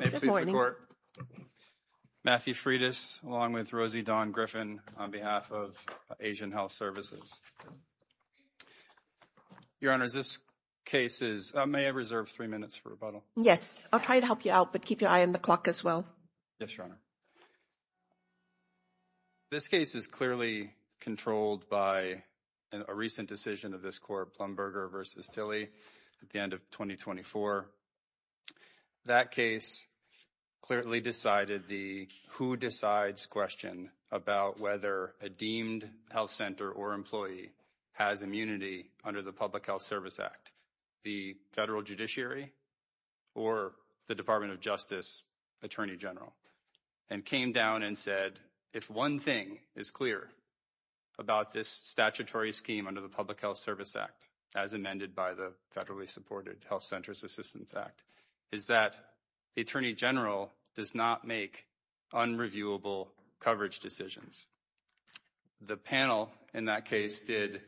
May it please the Court, Matthew Freitas along with Rosie Dawn Griffin on behalf of Asian Health Services. Your Honor, this case is, may I reserve three minutes for rebuttal? Yes, I'll try to help you out, but keep your eye on the clock as well. Yes, Your Honor. This case is clearly controlled by a recent decision of this Court, Blumberger v. Tilley at the end of 2024. That case clearly decided the who-decides question about whether a deemed health center or employee has immunity under the Public Health Service Act, the federal judiciary or the Department of Justice Attorney General, and came down and said, if one thing is clear about this statutory scheme under the Public Health Service Act, as amended by the federally supported Health Centers Assistance Act, is that the Attorney General does not make unreviewable coverage decisions. The panel in that case did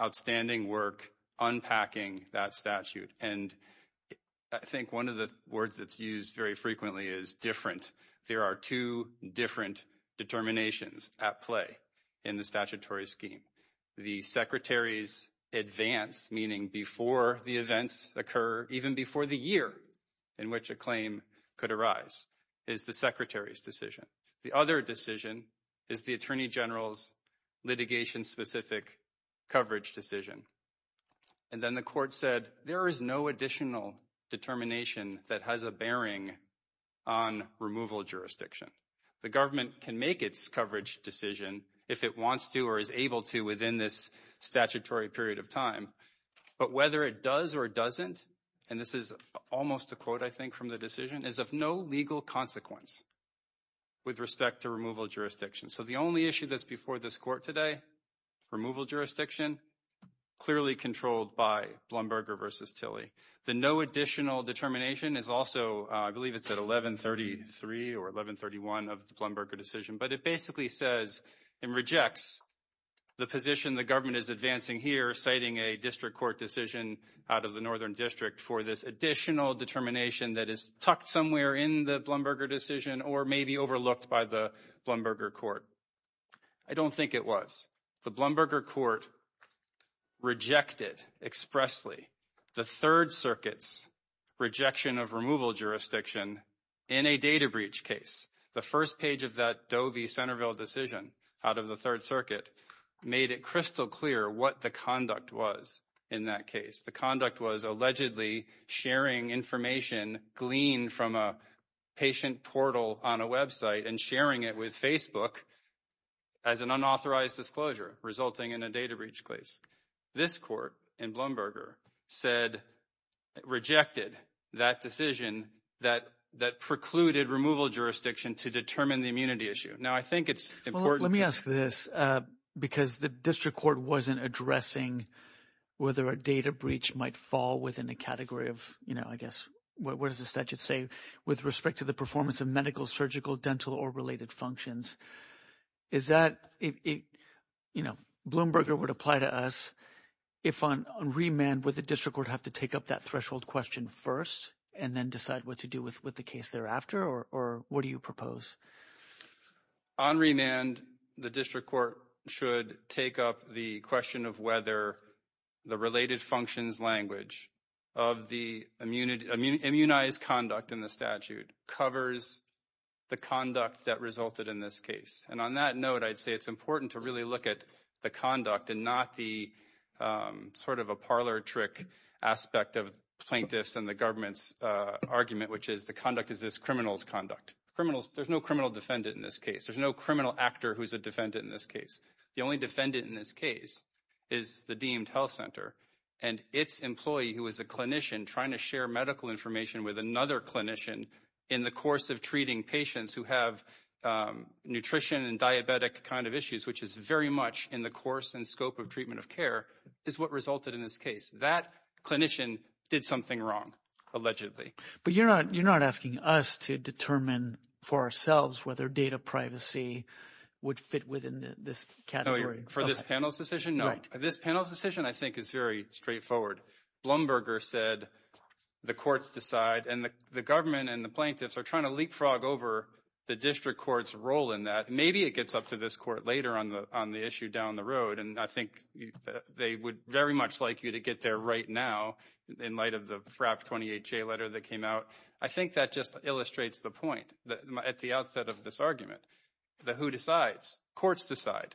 outstanding work unpacking that statute. And I think one of the words that's used very frequently is different. There are two different determinations at play in the statutory scheme. The Secretary's advance, meaning before the events occur, even before the year in which a claim could arise, is the Secretary's decision. The other decision is the Attorney General's litigation-specific coverage decision. And then the Court said there is no additional determination that has a bearing on removal jurisdiction. The government can make its coverage decision if it wants to or is able to within this statutory period of time. But whether it does or doesn't, and this is almost a quote, I think, from the decision, is of no legal consequence with respect to removal jurisdiction. So the only issue that's before this Court today, removal jurisdiction, clearly controlled by Blumberger v. Tilley. The no additional determination is also, I believe it's at 1133 or 1131 of the Blumberger decision, but it basically says and rejects the position the government is advancing here, citing a district court decision out of the Northern District for this additional determination that is tucked somewhere in the Blumberger decision or maybe overlooked by the Blumberger court. I don't think it was. The Blumberger court rejected expressly the Third Circuit's rejection of removal jurisdiction in a data breach case. The first page of that Doe v. Centerville decision out of the Third Circuit made it crystal clear what the conduct was in that case. The conduct was allegedly sharing information gleaned from a patient portal on a Web site and sharing it with Facebook as an unauthorized disclosure, resulting in a data breach case. This court in Blumberger said it rejected that decision that that precluded removal jurisdiction to determine the immunity issue. Now, I think it's important. Let me ask this because the district court wasn't addressing whether a data breach might fall within a category of, you know, I guess, what is the statute say with respect to the performance of medical, surgical, dental or related functions? Is that, you know, Blumberger would apply to us if on remand with the district would have to take up that threshold question first and then decide what to do with the case thereafter? Or what do you propose? On remand, the district court should take up the question of whether the related functions language of the immunity, immunized conduct in the statute covers the conduct that resulted in this case. And on that note, I'd say it's important to really look at the conduct and not the sort of a parlor trick aspect of plaintiffs and the government's argument, which is the conduct is this criminals conduct criminals. There's no criminal defendant in this case. There's no criminal actor who's a defendant in this case. The only defendant in this case is the deemed health center and its employee who is a clinician trying to share medical information with another clinician. In the course of treating patients who have nutrition and diabetic kind of issues, which is very much in the course and scope of treatment of care is what resulted in this case. That clinician did something wrong, allegedly. But you're not you're not asking us to determine for ourselves whether data privacy would fit within this category for this panel's decision. This panel's decision, I think, is very straightforward. Blumberger said the courts decide and the government and the plaintiffs are trying to leapfrog over the district court's role in that. Maybe it gets up to this court later on the on the issue down the road. And I think they would very much like you to get there right now. In light of the FRAP 28 letter that came out, I think that just illustrates the point at the outset of this argument. The who decides courts decide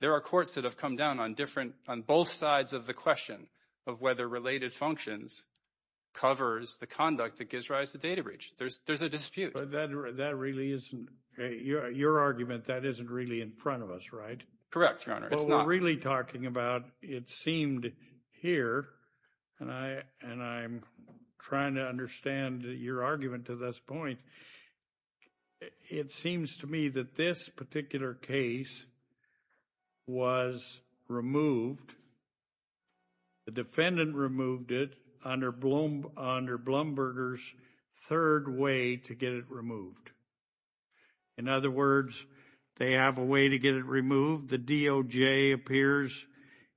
there are courts that have come down on different on both sides of the question of whether related functions covers the conduct that gives rise to data breach. There's there's a dispute that that really isn't your argument. That isn't really in front of us. Right. Correct. We're really talking about it seemed here and I and I'm trying to understand your argument to this point. It seems to me that this particular case. Was removed. The defendant removed it under under Blumberger's third way to get it removed. In other words, they have a way to get it removed. The DOJ appears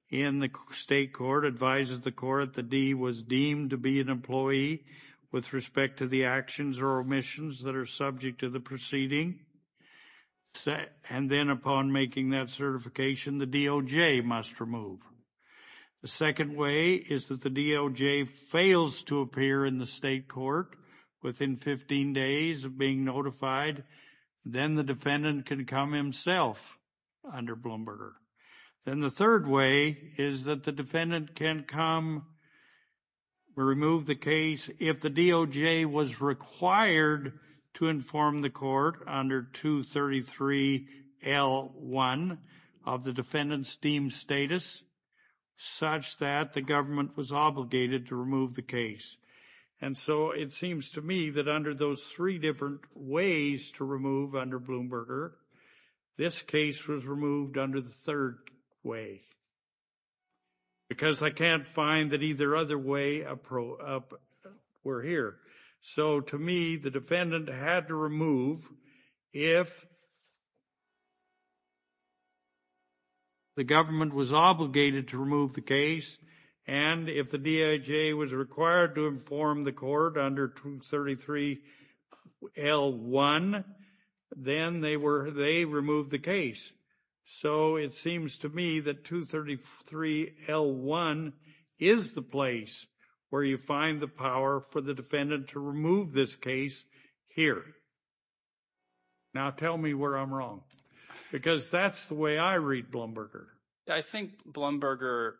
in the state court advises the court. The D was deemed to be an employee with respect to the actions or omissions that are subject to the proceeding set. And then upon making that certification, the DOJ must remove. The second way is that the DOJ fails to appear in the state court within 15 days of being notified. Then the defendant can come himself under Bloomberg. Then the third way is that the defendant can come. Remove the case, if the DOJ was required to inform the court under 233 L1 of the defendant steam status. Such that the government was obligated to remove the case. And so it seems to me that under those 3 different ways to remove under Bloomberg. This case was removed under the third way. Because I can't find that either other way. We're here. So, to me, the defendant had to remove. If. The government was obligated to remove the case. And if the DOJ was required to inform the court under 233. L1, then they were, they removed the case. So, it seems to me that 233 L1 is the place. Where you find the power for the defendant to remove this case here. Now, tell me where I'm wrong because that's the way I read Bloomberg. I think Bloomberg.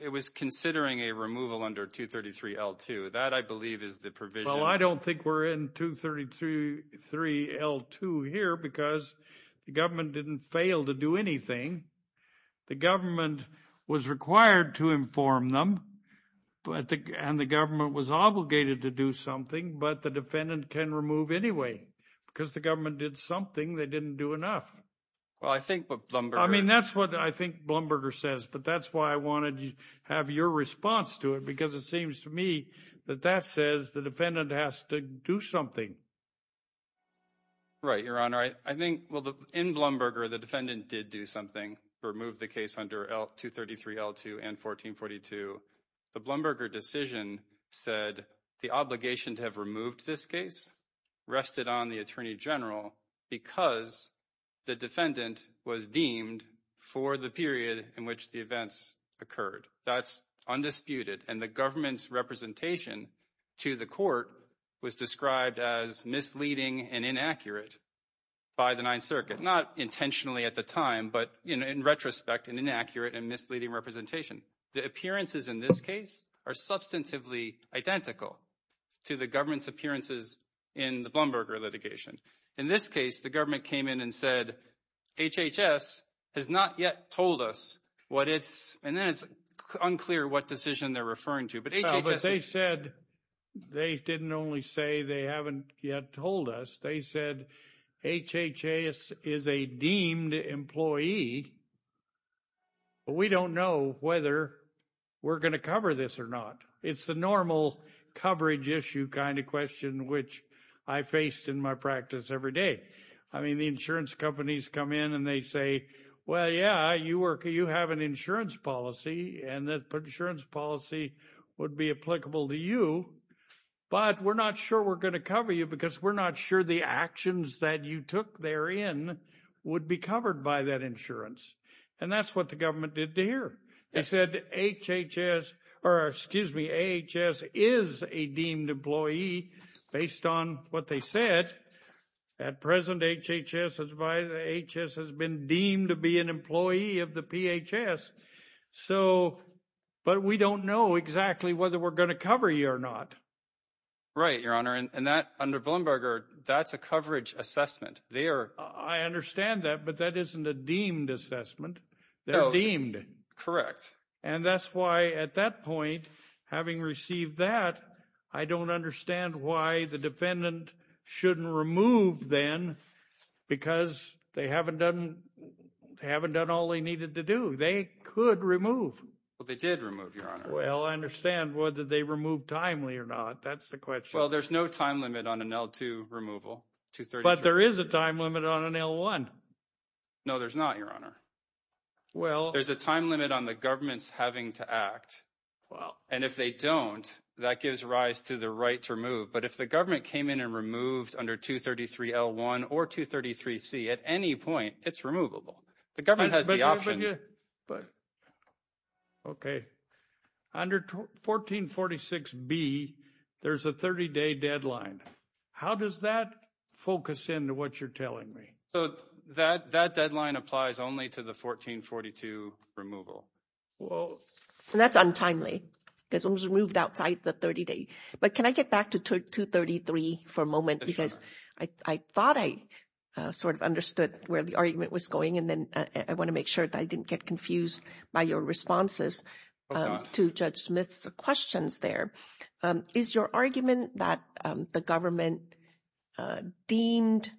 It was considering a removal under 233 L2 that I believe is the provision. Well, I don't think we're in 233 L2 here because the government didn't fail to do anything. The government was required to inform them. And the government was obligated to do something, but the defendant can remove anyway. Because the government did something they didn't do enough. Well, I think Bloomberg. I mean, that's what I think Bloomberg says, but that's why I wanted to have your response to it. Because it seems to me that that says the defendant has to do something. Right, Your Honor. I think, well, in Bloomberg, the defendant did do something. Remove the case under 233 L2 and 1442. The Bloomberg decision said the obligation to have removed this case rested on the Attorney General. Because the defendant was deemed for the period in which the events occurred. That's undisputed. And the government's representation to the court was described as misleading and inaccurate by the Ninth Circuit. Not intentionally at the time, but in retrospect, an inaccurate and misleading representation. The appearances in this case are substantively identical to the government's appearances in the Bloomberg litigation. In this case, the government came in and said, HHS has not yet told us what it's – and then it's unclear what decision they're referring to. But HHS is – Well, but they said – they didn't only say they haven't yet told us. They said HHS is a deemed employee, but we don't know whether we're going to cover this or not. It's the normal coverage issue kind of question which I face in my practice every day. I mean, the insurance companies come in and they say, well, yeah, you have an insurance policy, and that insurance policy would be applicable to you. But we're not sure we're going to cover you because we're not sure the actions that you took therein would be covered by that insurance. And that's what the government did to hear. They said HHS – or excuse me, AHS is a deemed employee based on what they said. At present, HHS has been deemed to be an employee of the PHS. So – but we don't know exactly whether we're going to cover you or not. Right, Your Honor, and that – under Bloomberg, that's a coverage assessment. They are – I understand that, but that isn't a deemed assessment. They're deemed. Correct. And that's why, at that point, having received that, I don't understand why the defendant shouldn't remove then because they haven't done all they needed to do. They could remove. Well, they did remove, Your Honor. Well, I understand whether they removed timely or not. That's the question. Well, there's no time limit on an L2 removal. But there is a time limit on an L1. No, there's not, Your Honor. Well – There's a time limit on the governments having to act. Well – And if they don't, that gives rise to the right to remove. But if the government came in and removed under 233L1 or 233C, at any point, it's removable. The government has the option – But – okay. Under 1446B, there's a 30-day deadline. How does that focus into what you're telling me? So that deadline applies only to the 1442 removal. Well – And that's untimely because it was removed outside the 30-day. But can I get back to 233 for a moment? Sure. Because I thought I sort of understood where the argument was going, and then I want to make sure that I didn't get confused by your responses to Judge Smith's questions there. Is your argument that the government deemed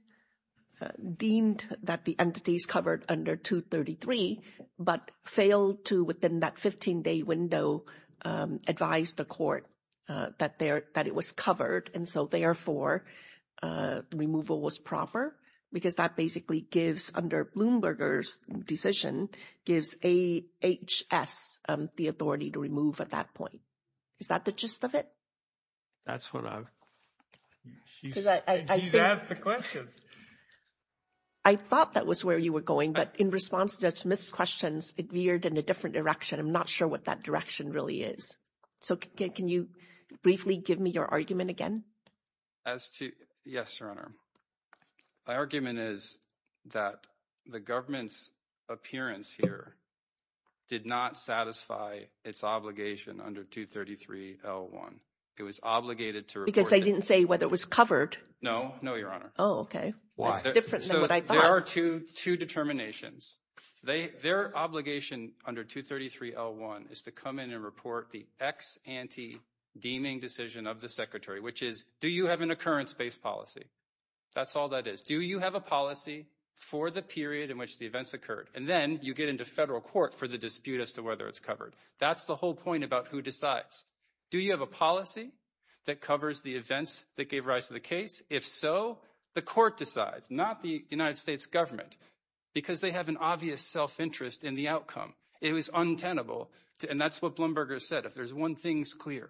that the entities covered under 233 but failed to, within that 15-day window, advise the court that it was covered, and so, therefore, removal was proper? Because that basically gives, under Bloomberger's decision, gives AHS the authority to remove at that point. Is that the gist of it? That's what I – she's asked the question. I thought that was where you were going, but in response to Judge Smith's questions, it veered in a different direction. I'm not sure what that direction really is. So can you briefly give me your argument again? As to – yes, Your Honor. My argument is that the government's appearance here did not satisfy its obligation under 233-L1. It was obligated to report – Because they didn't say whether it was covered. No. No, Your Honor. Oh, okay. Why? That's different than what I thought. There are two determinations. Their obligation under 233-L1 is to come in and report the ex ante deeming decision of the Secretary, which is, do you have an occurrence-based policy? That's all that is. Do you have a policy for the period in which the events occurred? And then you get into federal court for the dispute as to whether it's covered. That's the whole point about who decides. Do you have a policy that covers the events that gave rise to the case? If so, the court decides, not the United States government, because they have an obvious self-interest in the outcome. It was untenable. And that's what Blumberger said. If there's one thing that's clear,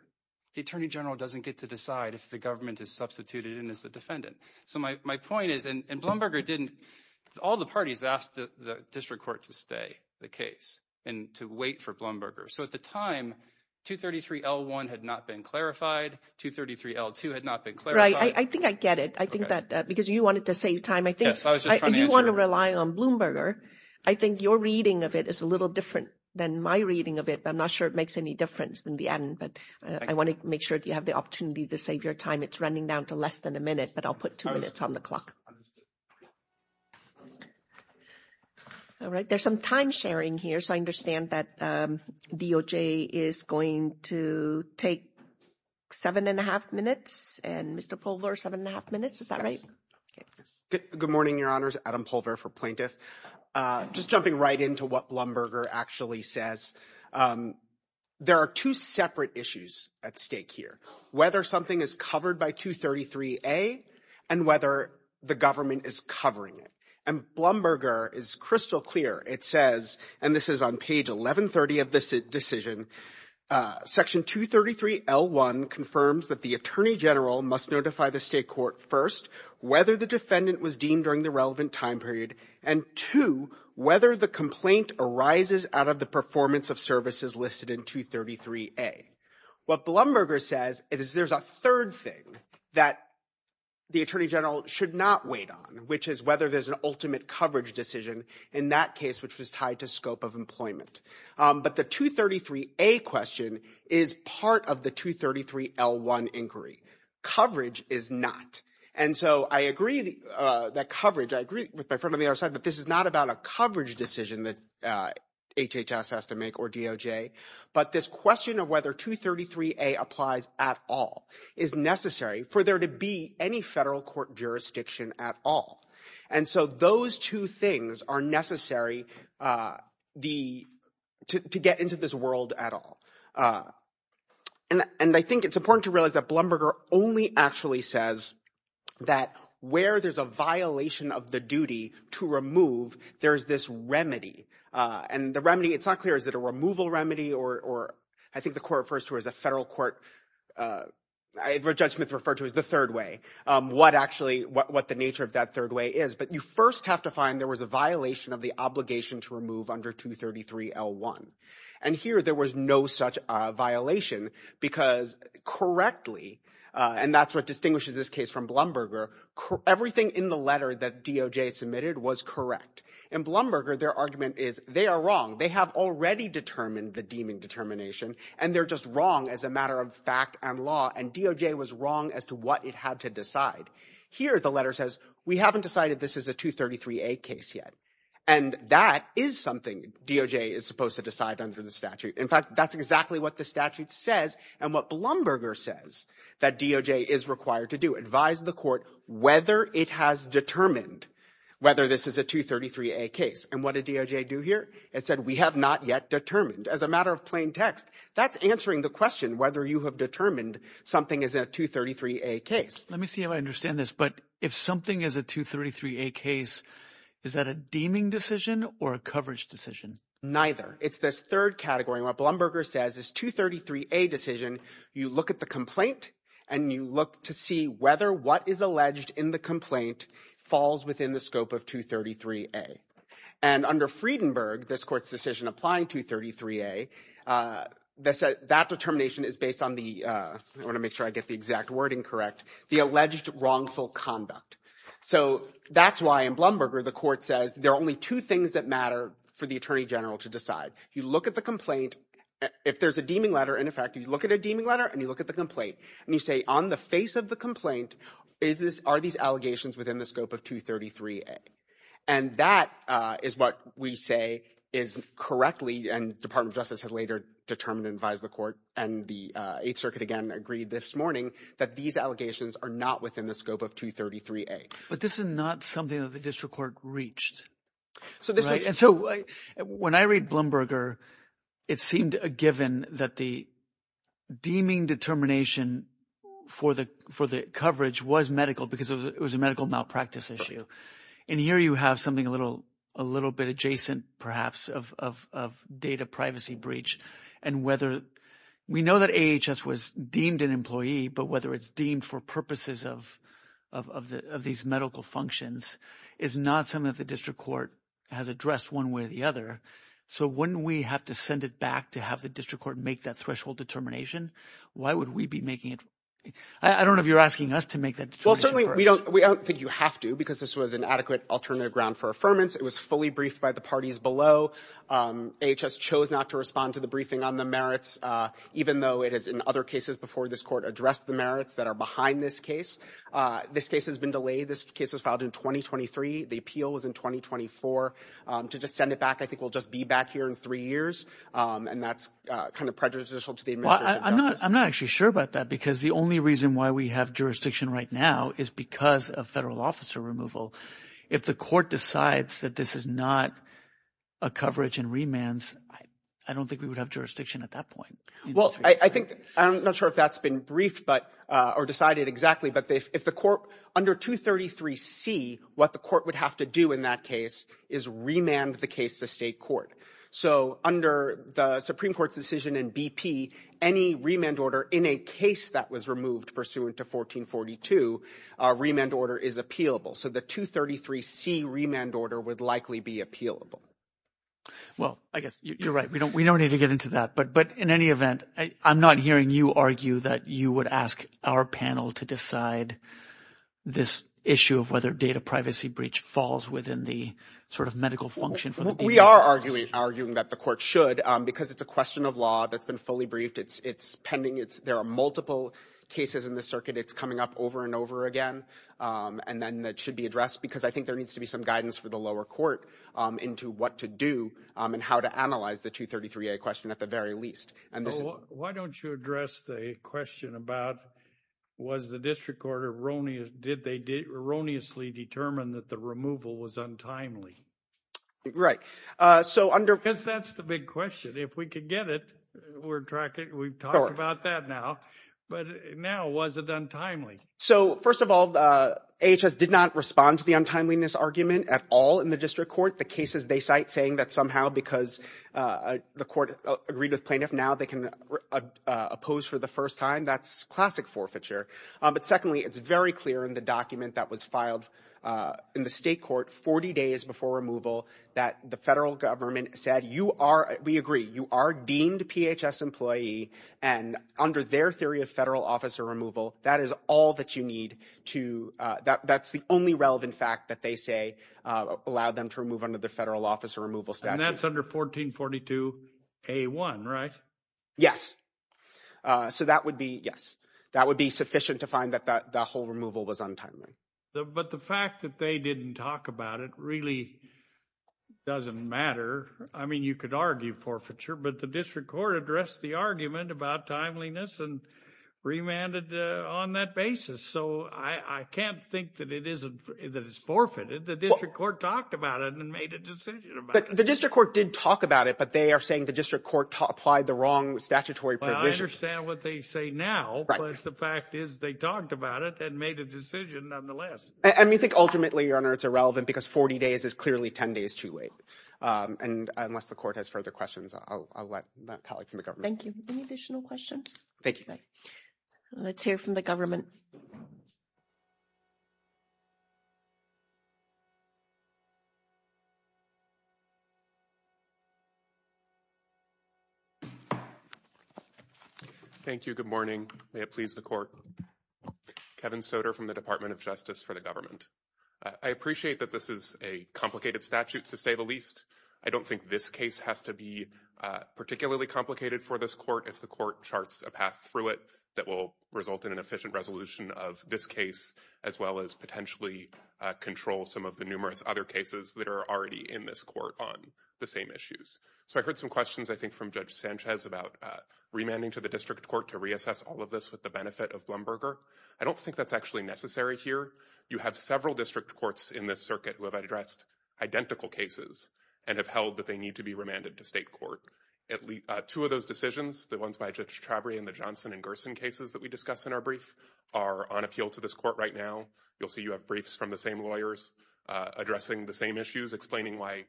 the attorney general doesn't get to decide if the government is substituted in as the defendant. So my point is – and Blumberger didn't – all the parties asked the district court to stay the case and to wait for Blumberger. So at the time, 233-L1 had not been clarified. 233-L2 had not been clarified. All right. I think I get it. I think that – because you wanted to save time. I think – Yes, I was just trying to answer – You want to rely on Blumberger. I think your reading of it is a little different than my reading of it, but I'm not sure it makes any difference in the end. But I want to make sure that you have the opportunity to save your time. It's running down to less than a minute, but I'll put two minutes on the clock. All right. There's some time sharing here, so I understand that DOJ is going to take seven and a half minutes. And Mr. Pulver, seven and a half minutes. Is that right? Yes. Good morning, Your Honors. Adam Pulver for Plaintiff. Just jumping right into what Blumberger actually says. There are two separate issues at stake here, whether something is covered by 233-A and whether the government is covering it. And Blumberger is crystal clear. It says – and this is on page 1130 of this decision – Section 233-L1 confirms that the attorney general must notify the state court, first, whether the defendant was deemed during the relevant time period, and, two, whether the complaint arises out of the performance of services listed in 233-A. What Blumberger says is there's a third thing that the attorney general should not wait on, which is whether there's an ultimate coverage decision in that case, which was tied to scope of employment. But the 233-A question is part of the 233-L1 inquiry. Coverage is not. And so I agree that coverage – I agree with my friend on the other side, but this is not about a coverage decision that HHS has to make or DOJ. But this question of whether 233-A applies at all is necessary for there to be any federal court jurisdiction at all. And so those two things are necessary to get into this world at all. And I think it's important to realize that Blumberger only actually says that where there's a violation of the duty to remove, there's this remedy. And the remedy – it's not clear is it a removal remedy or – I think the court refers to it as a federal court – where Judge Smith referred to it as the third way, what actually – what the nature of that third way is. But you first have to find there was a violation of the obligation to remove under 233-L1. And here there was no such violation because correctly – and that's what distinguishes this case from Blumberger – everything in the letter that DOJ submitted was correct. In Blumberger, their argument is they are wrong. They have already determined the deeming determination, and they're just wrong as a matter of fact and law, and DOJ was wrong as to what it had to decide. Here the letter says we haven't decided this is a 233-A case yet, and that is something DOJ is supposed to decide under the statute. In fact, that's exactly what the statute says and what Blumberger says that DOJ is required to do, advise the court whether it has determined whether this is a 233-A case. And what did DOJ do here? It said we have not yet determined. As a matter of plain text, that's answering the question whether you have determined something is a 233-A case. Let me see if I understand this, but if something is a 233-A case, is that a deeming decision or a coverage decision? Neither. It's this third category. What Blumberger says is 233-A decision, you look at the complaint and you look to see whether what is alleged in the complaint falls within the scope of 233-A. And under Friedenberg, this Court's decision applying 233-A, that determination is based on the – I want to make sure I get the exact wording correct – the alleged wrongful conduct. So that's why in Blumberger the Court says there are only two things that matter for the Attorney General to decide. You look at the complaint. If there's a deeming letter, in effect, you look at a deeming letter and you look at the complaint. And you say on the face of the complaint, are these allegations within the scope of 233-A? And that is what we say is correctly – and the Department of Justice has later determined and advised the court and the Eighth Circuit again agreed this morning that these allegations are not within the scope of 233-A. But this is not something that the district court reached. So when I read Blumberger, it seemed a given that the deeming determination for the coverage was medical because it was a medical malpractice issue. And here you have something a little bit adjacent perhaps of data privacy breach and whether – we know that AHS was deemed an employee, but whether it's deemed for purposes of these medical functions is not something that the district court has addressed one way or the other. So wouldn't we have to send it back to have the district court make that threshold determination? Why would we be making it – I don't know if you're asking us to make that determination first. We don't think you have to because this was an adequate alternative ground for affirmance. It was fully briefed by the parties below. AHS chose not to respond to the briefing on the merits even though it has in other cases before this court addressed the merits that are behind this case. This case has been delayed. This case was filed in 2023. The appeal was in 2024. To just send it back I think will just be back here in three years, and that's kind of prejudicial to the administration of justice. I'm not actually sure about that because the only reason why we have jurisdiction right now is because of federal officer removal. If the court decides that this is not a coverage and remands, I don't think we would have jurisdiction at that point. Well, I think – I'm not sure if that's been briefed but – or decided exactly. But if the court – under 233C, what the court would have to do in that case is remand the case to state court. So under the Supreme Court's decision in BP, any remand order in a case that was removed pursuant to 1442, a remand order is appealable. So the 233C remand order would likely be appealable. Well, I guess you're right. We don't need to get into that. But in any event, I'm not hearing you argue that you would ask our panel to decide this issue of whether data privacy breach falls within the sort of medical function. We are arguing that the court should because it's a question of law that's been fully briefed. It's pending. There are multiple cases in the circuit. It's coming up over and over again. And then that should be addressed because I think there needs to be some guidance for the lower court into what to do and how to analyze the 233A question at the very least. Why don't you address the question about was the district court – did they erroneously determine that the removal was untimely? Right. Because that's the big question. If we could get it, we'd talk about that now. But now, was it untimely? So, first of all, AHS did not respond to the untimeliness argument at all in the district court. The cases they cite saying that somehow because the court agreed with plaintiff, now they can oppose for the first time, that's classic forfeiture. But secondly, it's very clear in the document that was filed in the state court 40 days before removal that the federal government said you are – we agree, you are deemed PHS employee. And under their theory of federal officer removal, that is all that you need to – that's the only relevant fact that they say allowed them to remove under the federal officer removal statute. And that's under 1442A1, right? Yes. So, that would be – yes. That would be sufficient to find that the whole removal was untimely. But the fact that they didn't talk about it really doesn't matter. I mean you could argue forfeiture, but the district court addressed the argument about timeliness and remanded on that basis. So, I can't think that it isn't – that it's forfeited. The district court talked about it and made a decision about it. The district court did talk about it, but they are saying the district court applied the wrong statutory provision. I understand what they say now. Right. But the fact is they talked about it and made a decision nonetheless. And we think ultimately, Your Honor, it's irrelevant because 40 days is clearly 10 days too late. And unless the court has further questions, I'll let that colleague from the government. Thank you. Any additional questions? Thank you. Let's hear from the government. Thank you. Good morning. May it please the court. Kevin Soder from the Department of Justice for the government. I appreciate that this is a complicated statute to say the least. I don't think this case has to be particularly complicated for this court if the court charts a path through it that will result in an efficient resolution of this case, as well as potentially control some of the numerous other cases that are already in this court on the same issues. So I heard some questions, I think, from Judge Sanchez about remanding to the district court to reassess all of this with the benefit of Blumberger. I don't think that's actually necessary here. You have several district courts in this circuit who have addressed identical cases and have held that they need to be remanded to state court. Two of those decisions, the ones by Judge Chabry and the Johnson and Gerson cases that we discussed in our brief, are on appeal to this court right now. You'll see you have briefs from the same lawyers addressing the same issues, explaining why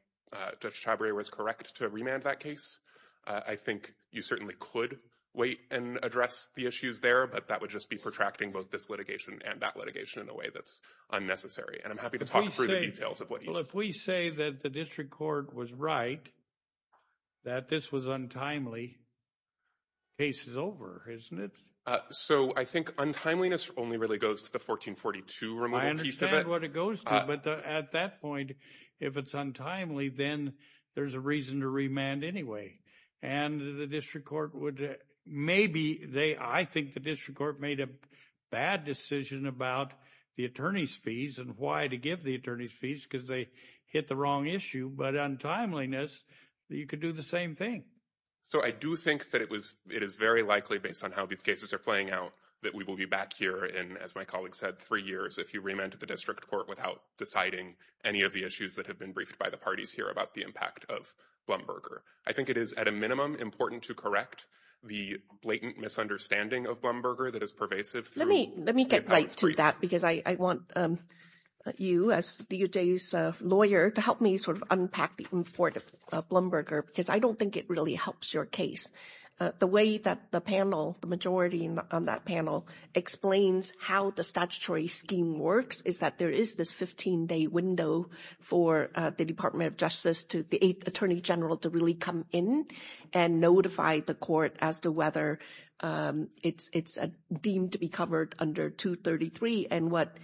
Judge Chabry was correct to remand that case. I think you certainly could wait and address the issues there, but that would just be protracting both this litigation and that litigation in a way that's unnecessary. And I'm happy to talk through the details of what he said. I would say that the district court was right that this was untimely. Case is over, isn't it? So I think untimeliness only really goes to the 1442 removal piece of it. I understand what it goes to, but at that point, if it's untimely, then there's a reason to remand anyway. I think the district court made a bad decision about the attorney's fees and why to give the attorney's fees because they hit the wrong issue. But untimeliness, you could do the same thing. So I do think that it is very likely, based on how these cases are playing out, that we will be back here in, as my colleague said, three years if you remand to the district court without deciding any of the issues that have been briefed by the parties here about the impact of Blumberger. I think it is, at a minimum, important to correct the blatant misunderstanding of Blumberger that is pervasive. Let me get right to that because I want you, as DOJ's lawyer, to help me sort of unpack the import of Blumberger because I don't think it really helps your case. The way that the panel, the majority on that panel, explains how the statutory scheme works is that there is this 15-day window for the Department of Justice, the Attorney General, to really come in and notify the court as to whether it's deemed to be covered under 233. And what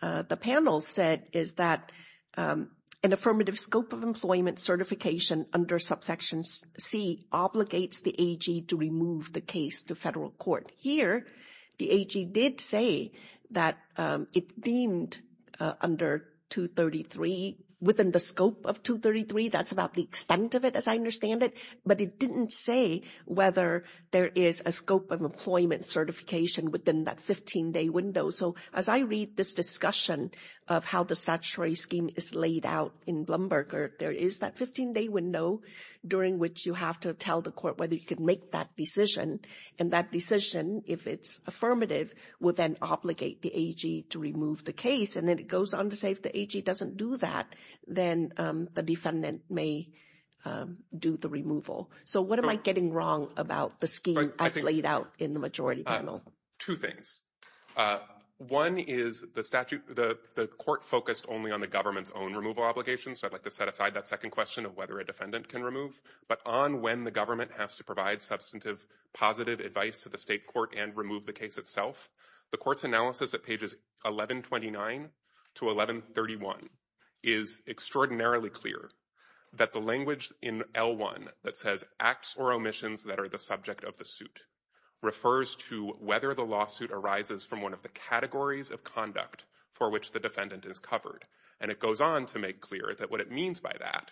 the panel said is that an affirmative scope of employment certification under subsection C obligates the AG to remove the case to federal court. Here, the AG did say that it deemed under 233, within the scope of 233, that's about the extent of it as I understand it, but it didn't say whether there is a scope of employment certification within that 15-day window. So as I read this discussion of how the statutory scheme is laid out in Blumberger, there is that 15-day window during which you have to tell the court whether you can make that decision. And that decision, if it's affirmative, would then obligate the AG to remove the case. And then it goes on to say if the AG doesn't do that, then the defendant may do the removal. So what am I getting wrong about the scheme as laid out in the majority panel? Two things. One is the statute, the court focused only on the government's own removal obligations, so I'd like to set aside that second question of whether a defendant can remove, but on when the government has to provide substantive positive advice to the state court and remove the case itself. The court's analysis at pages 1129 to 1131 is extraordinarily clear that the language in L1 that says acts or omissions that are the subject of the suit refers to whether the lawsuit arises from one of the categories of conduct for which the defendant is covered. And it goes on to make clear that what it means by that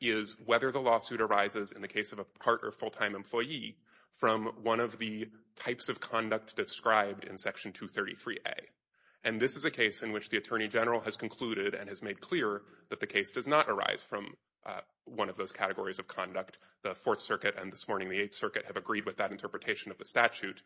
is whether the lawsuit arises in the case of a part or full-time employee from one of the types of conduct described in Section 233A. And this is a case in which the Attorney General has concluded and has made clear that the case does not arise from one of those categories of conduct. The Fourth Circuit and this morning the Eighth Circuit have agreed with that interpretation of the statute.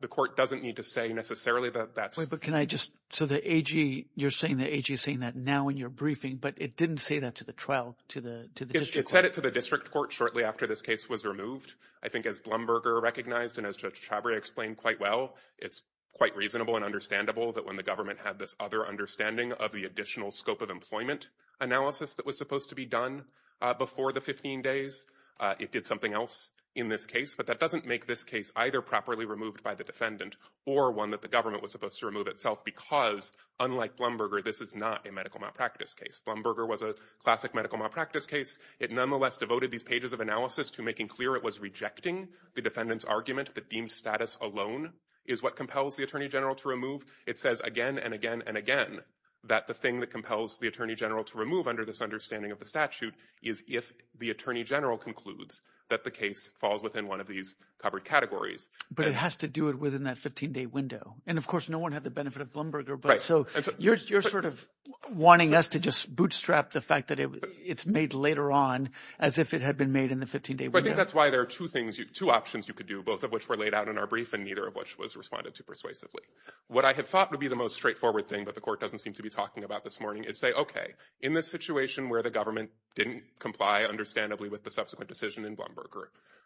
The court doesn't need to say necessarily that that's... But can I just, so the AG, you're saying the AG is saying that now in your briefing, but it didn't say that to the trial, to the district court. It said it to the district court shortly after this case was removed. I think as Blumberger recognized and as Judge Chabria explained quite well, it's quite reasonable and understandable that when the government had this other understanding of the additional scope of employment analysis that was supposed to be done before the 15 days, it did something else in this case. But that doesn't make this case either properly removed by the defendant or one that the government was supposed to remove itself because, unlike Blumberger, this is not a medical malpractice case. Blumberger was a classic medical malpractice case. It nonetheless devoted these pages of analysis to making clear it was rejecting the defendant's argument that deemed status alone is what compels the Attorney General to remove. It says again and again and again that the thing that compels the Attorney General to remove under this understanding of the statute is if the Attorney General concludes that the case falls within one of these covered categories. But it has to do it within that 15-day window. And, of course, no one had the benefit of Blumberger. So you're sort of wanting us to just bootstrap the fact that it's made later on as if it had been made in the 15-day window. I think that's why there are two things, two options you could do, both of which were laid out in our brief and neither of which was responded to persuasively. What I had thought would be the most straightforward thing that the court doesn't seem to be talking about this morning is say, okay, in this situation where the government didn't comply understandably with the subsequent decision in Blumberger,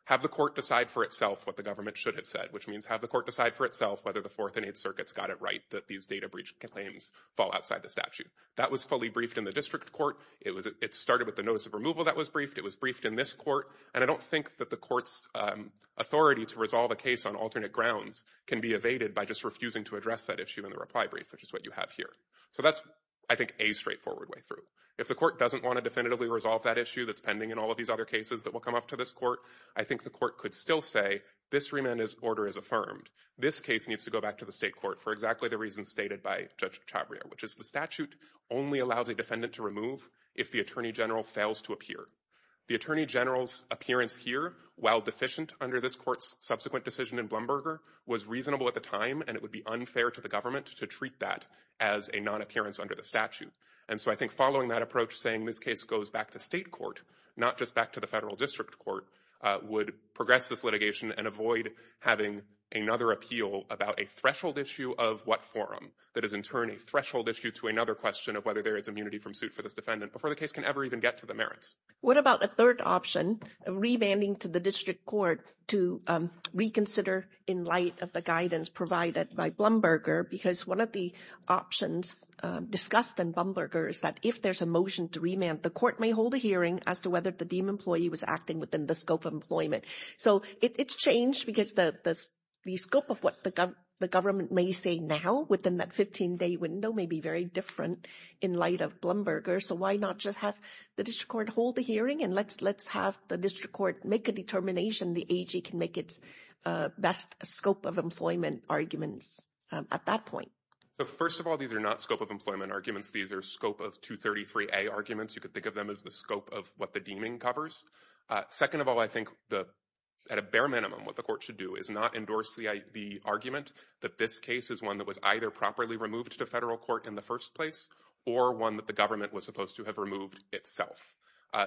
have the court decide for itself what the government should have said, which means have the court decide for itself whether the Fourth and Eighth Circuits got it right that these data breach claims fall outside the statute. That was fully briefed in the district court. It started with the notice of removal that was briefed. It was briefed in this court. And I don't think that the court's authority to resolve a case on alternate grounds can be evaded by just refusing to address that issue in the reply brief, which is what you have here. So that's, I think, a straightforward way through. If the court doesn't want to definitively resolve that issue that's pending in all of these other cases that will come up to this court, I think the court could still say this remand order is affirmed. This case needs to go back to the state court for exactly the reasons stated by Judge Chavrier, which is the statute only allows a defendant to remove if the attorney general fails to appear. The attorney general's appearance here, while deficient under this court's subsequent decision in Blumberger, was reasonable at the time, and it would be unfair to the government to treat that as a non-appearance under the statute. And so I think following that approach, saying this case goes back to state court, not just back to the federal district court, would progress this litigation and avoid having another appeal about a threshold issue of what forum that is in turn a threshold issue to another question of whether there is immunity from suit for this defendant before the case can ever even get to the merits. What about a third option of remanding to the district court to reconsider in light of the guidance provided by Blumberger? Because one of the options discussed in Blumberger is that if there's a motion to remand, the court may hold a hearing as to whether the deemed employee was acting within the scope of employment. So it's changed because the scope of what the government may say now within that 15-day window may be very different in light of Blumberger. So why not just have the district court hold a hearing and let's have the district court make a determination the AG can make its best scope of employment arguments at that point? So first of all, these are not scope of employment arguments. These are scope of 233A arguments. You could think of them as the scope of what the deeming covers. Second of all, I think at a bare minimum what the court should do is not endorse the argument that this case is one that was either properly removed to federal court in the first place or one that the government was supposed to have removed itself.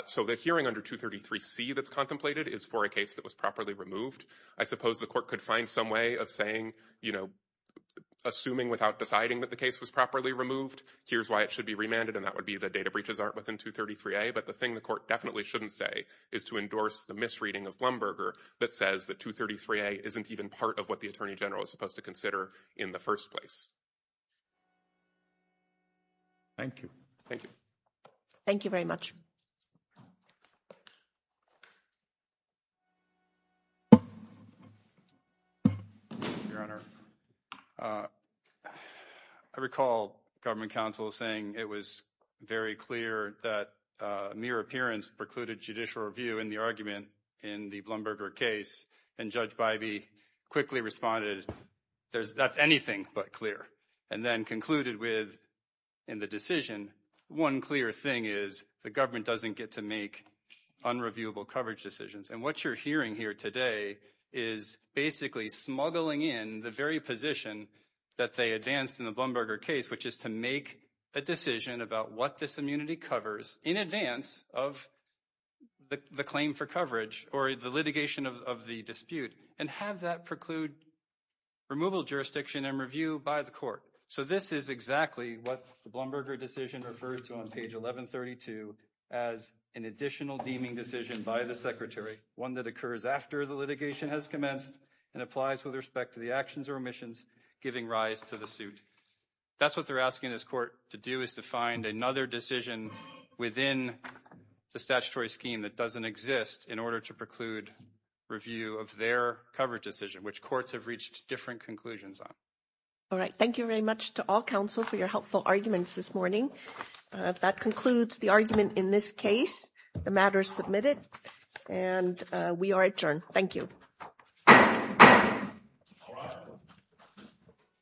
So the hearing under 233C that's contemplated is for a case that was properly removed. I suppose the court could find some way of saying, you know, assuming without deciding that the case was properly removed, here's why it should be remanded, and that would be the data breaches aren't within 233A. But the thing the court definitely shouldn't say is to endorse the misreading of Blumberger that says that 233A isn't even part of what the attorney general is supposed to consider in the first place. Thank you. Thank you. Thank you very much. Your Honor, I recall government counsel saying it was very clear that mere appearance precluded judicial review in the argument in the Blumberger case. And Judge Bybee quickly responded, that's anything but clear. And then concluded with in the decision, one clear thing is the government doesn't get to make unreviewable coverage decisions. And what you're hearing here today is basically smuggling in the very position that they advanced in the Blumberger case, which is to make a decision about what this immunity covers in advance of the claim for coverage or the litigation of the dispute. And have that preclude removal jurisdiction and review by the court. So this is exactly what the Blumberger decision referred to on page 1132 as an additional deeming decision by the secretary, one that occurs after the litigation has commenced and applies with respect to the actions or omissions giving rise to the suit. That's what they're asking this court to do is to find another decision within the statutory scheme that doesn't exist in order to preclude review of their cover decision, which courts have reached different conclusions on. All right, thank you very much to all counsel for your helpful arguments this morning. That concludes the argument in this case, the matter submitted, and we are adjourned. Thank you.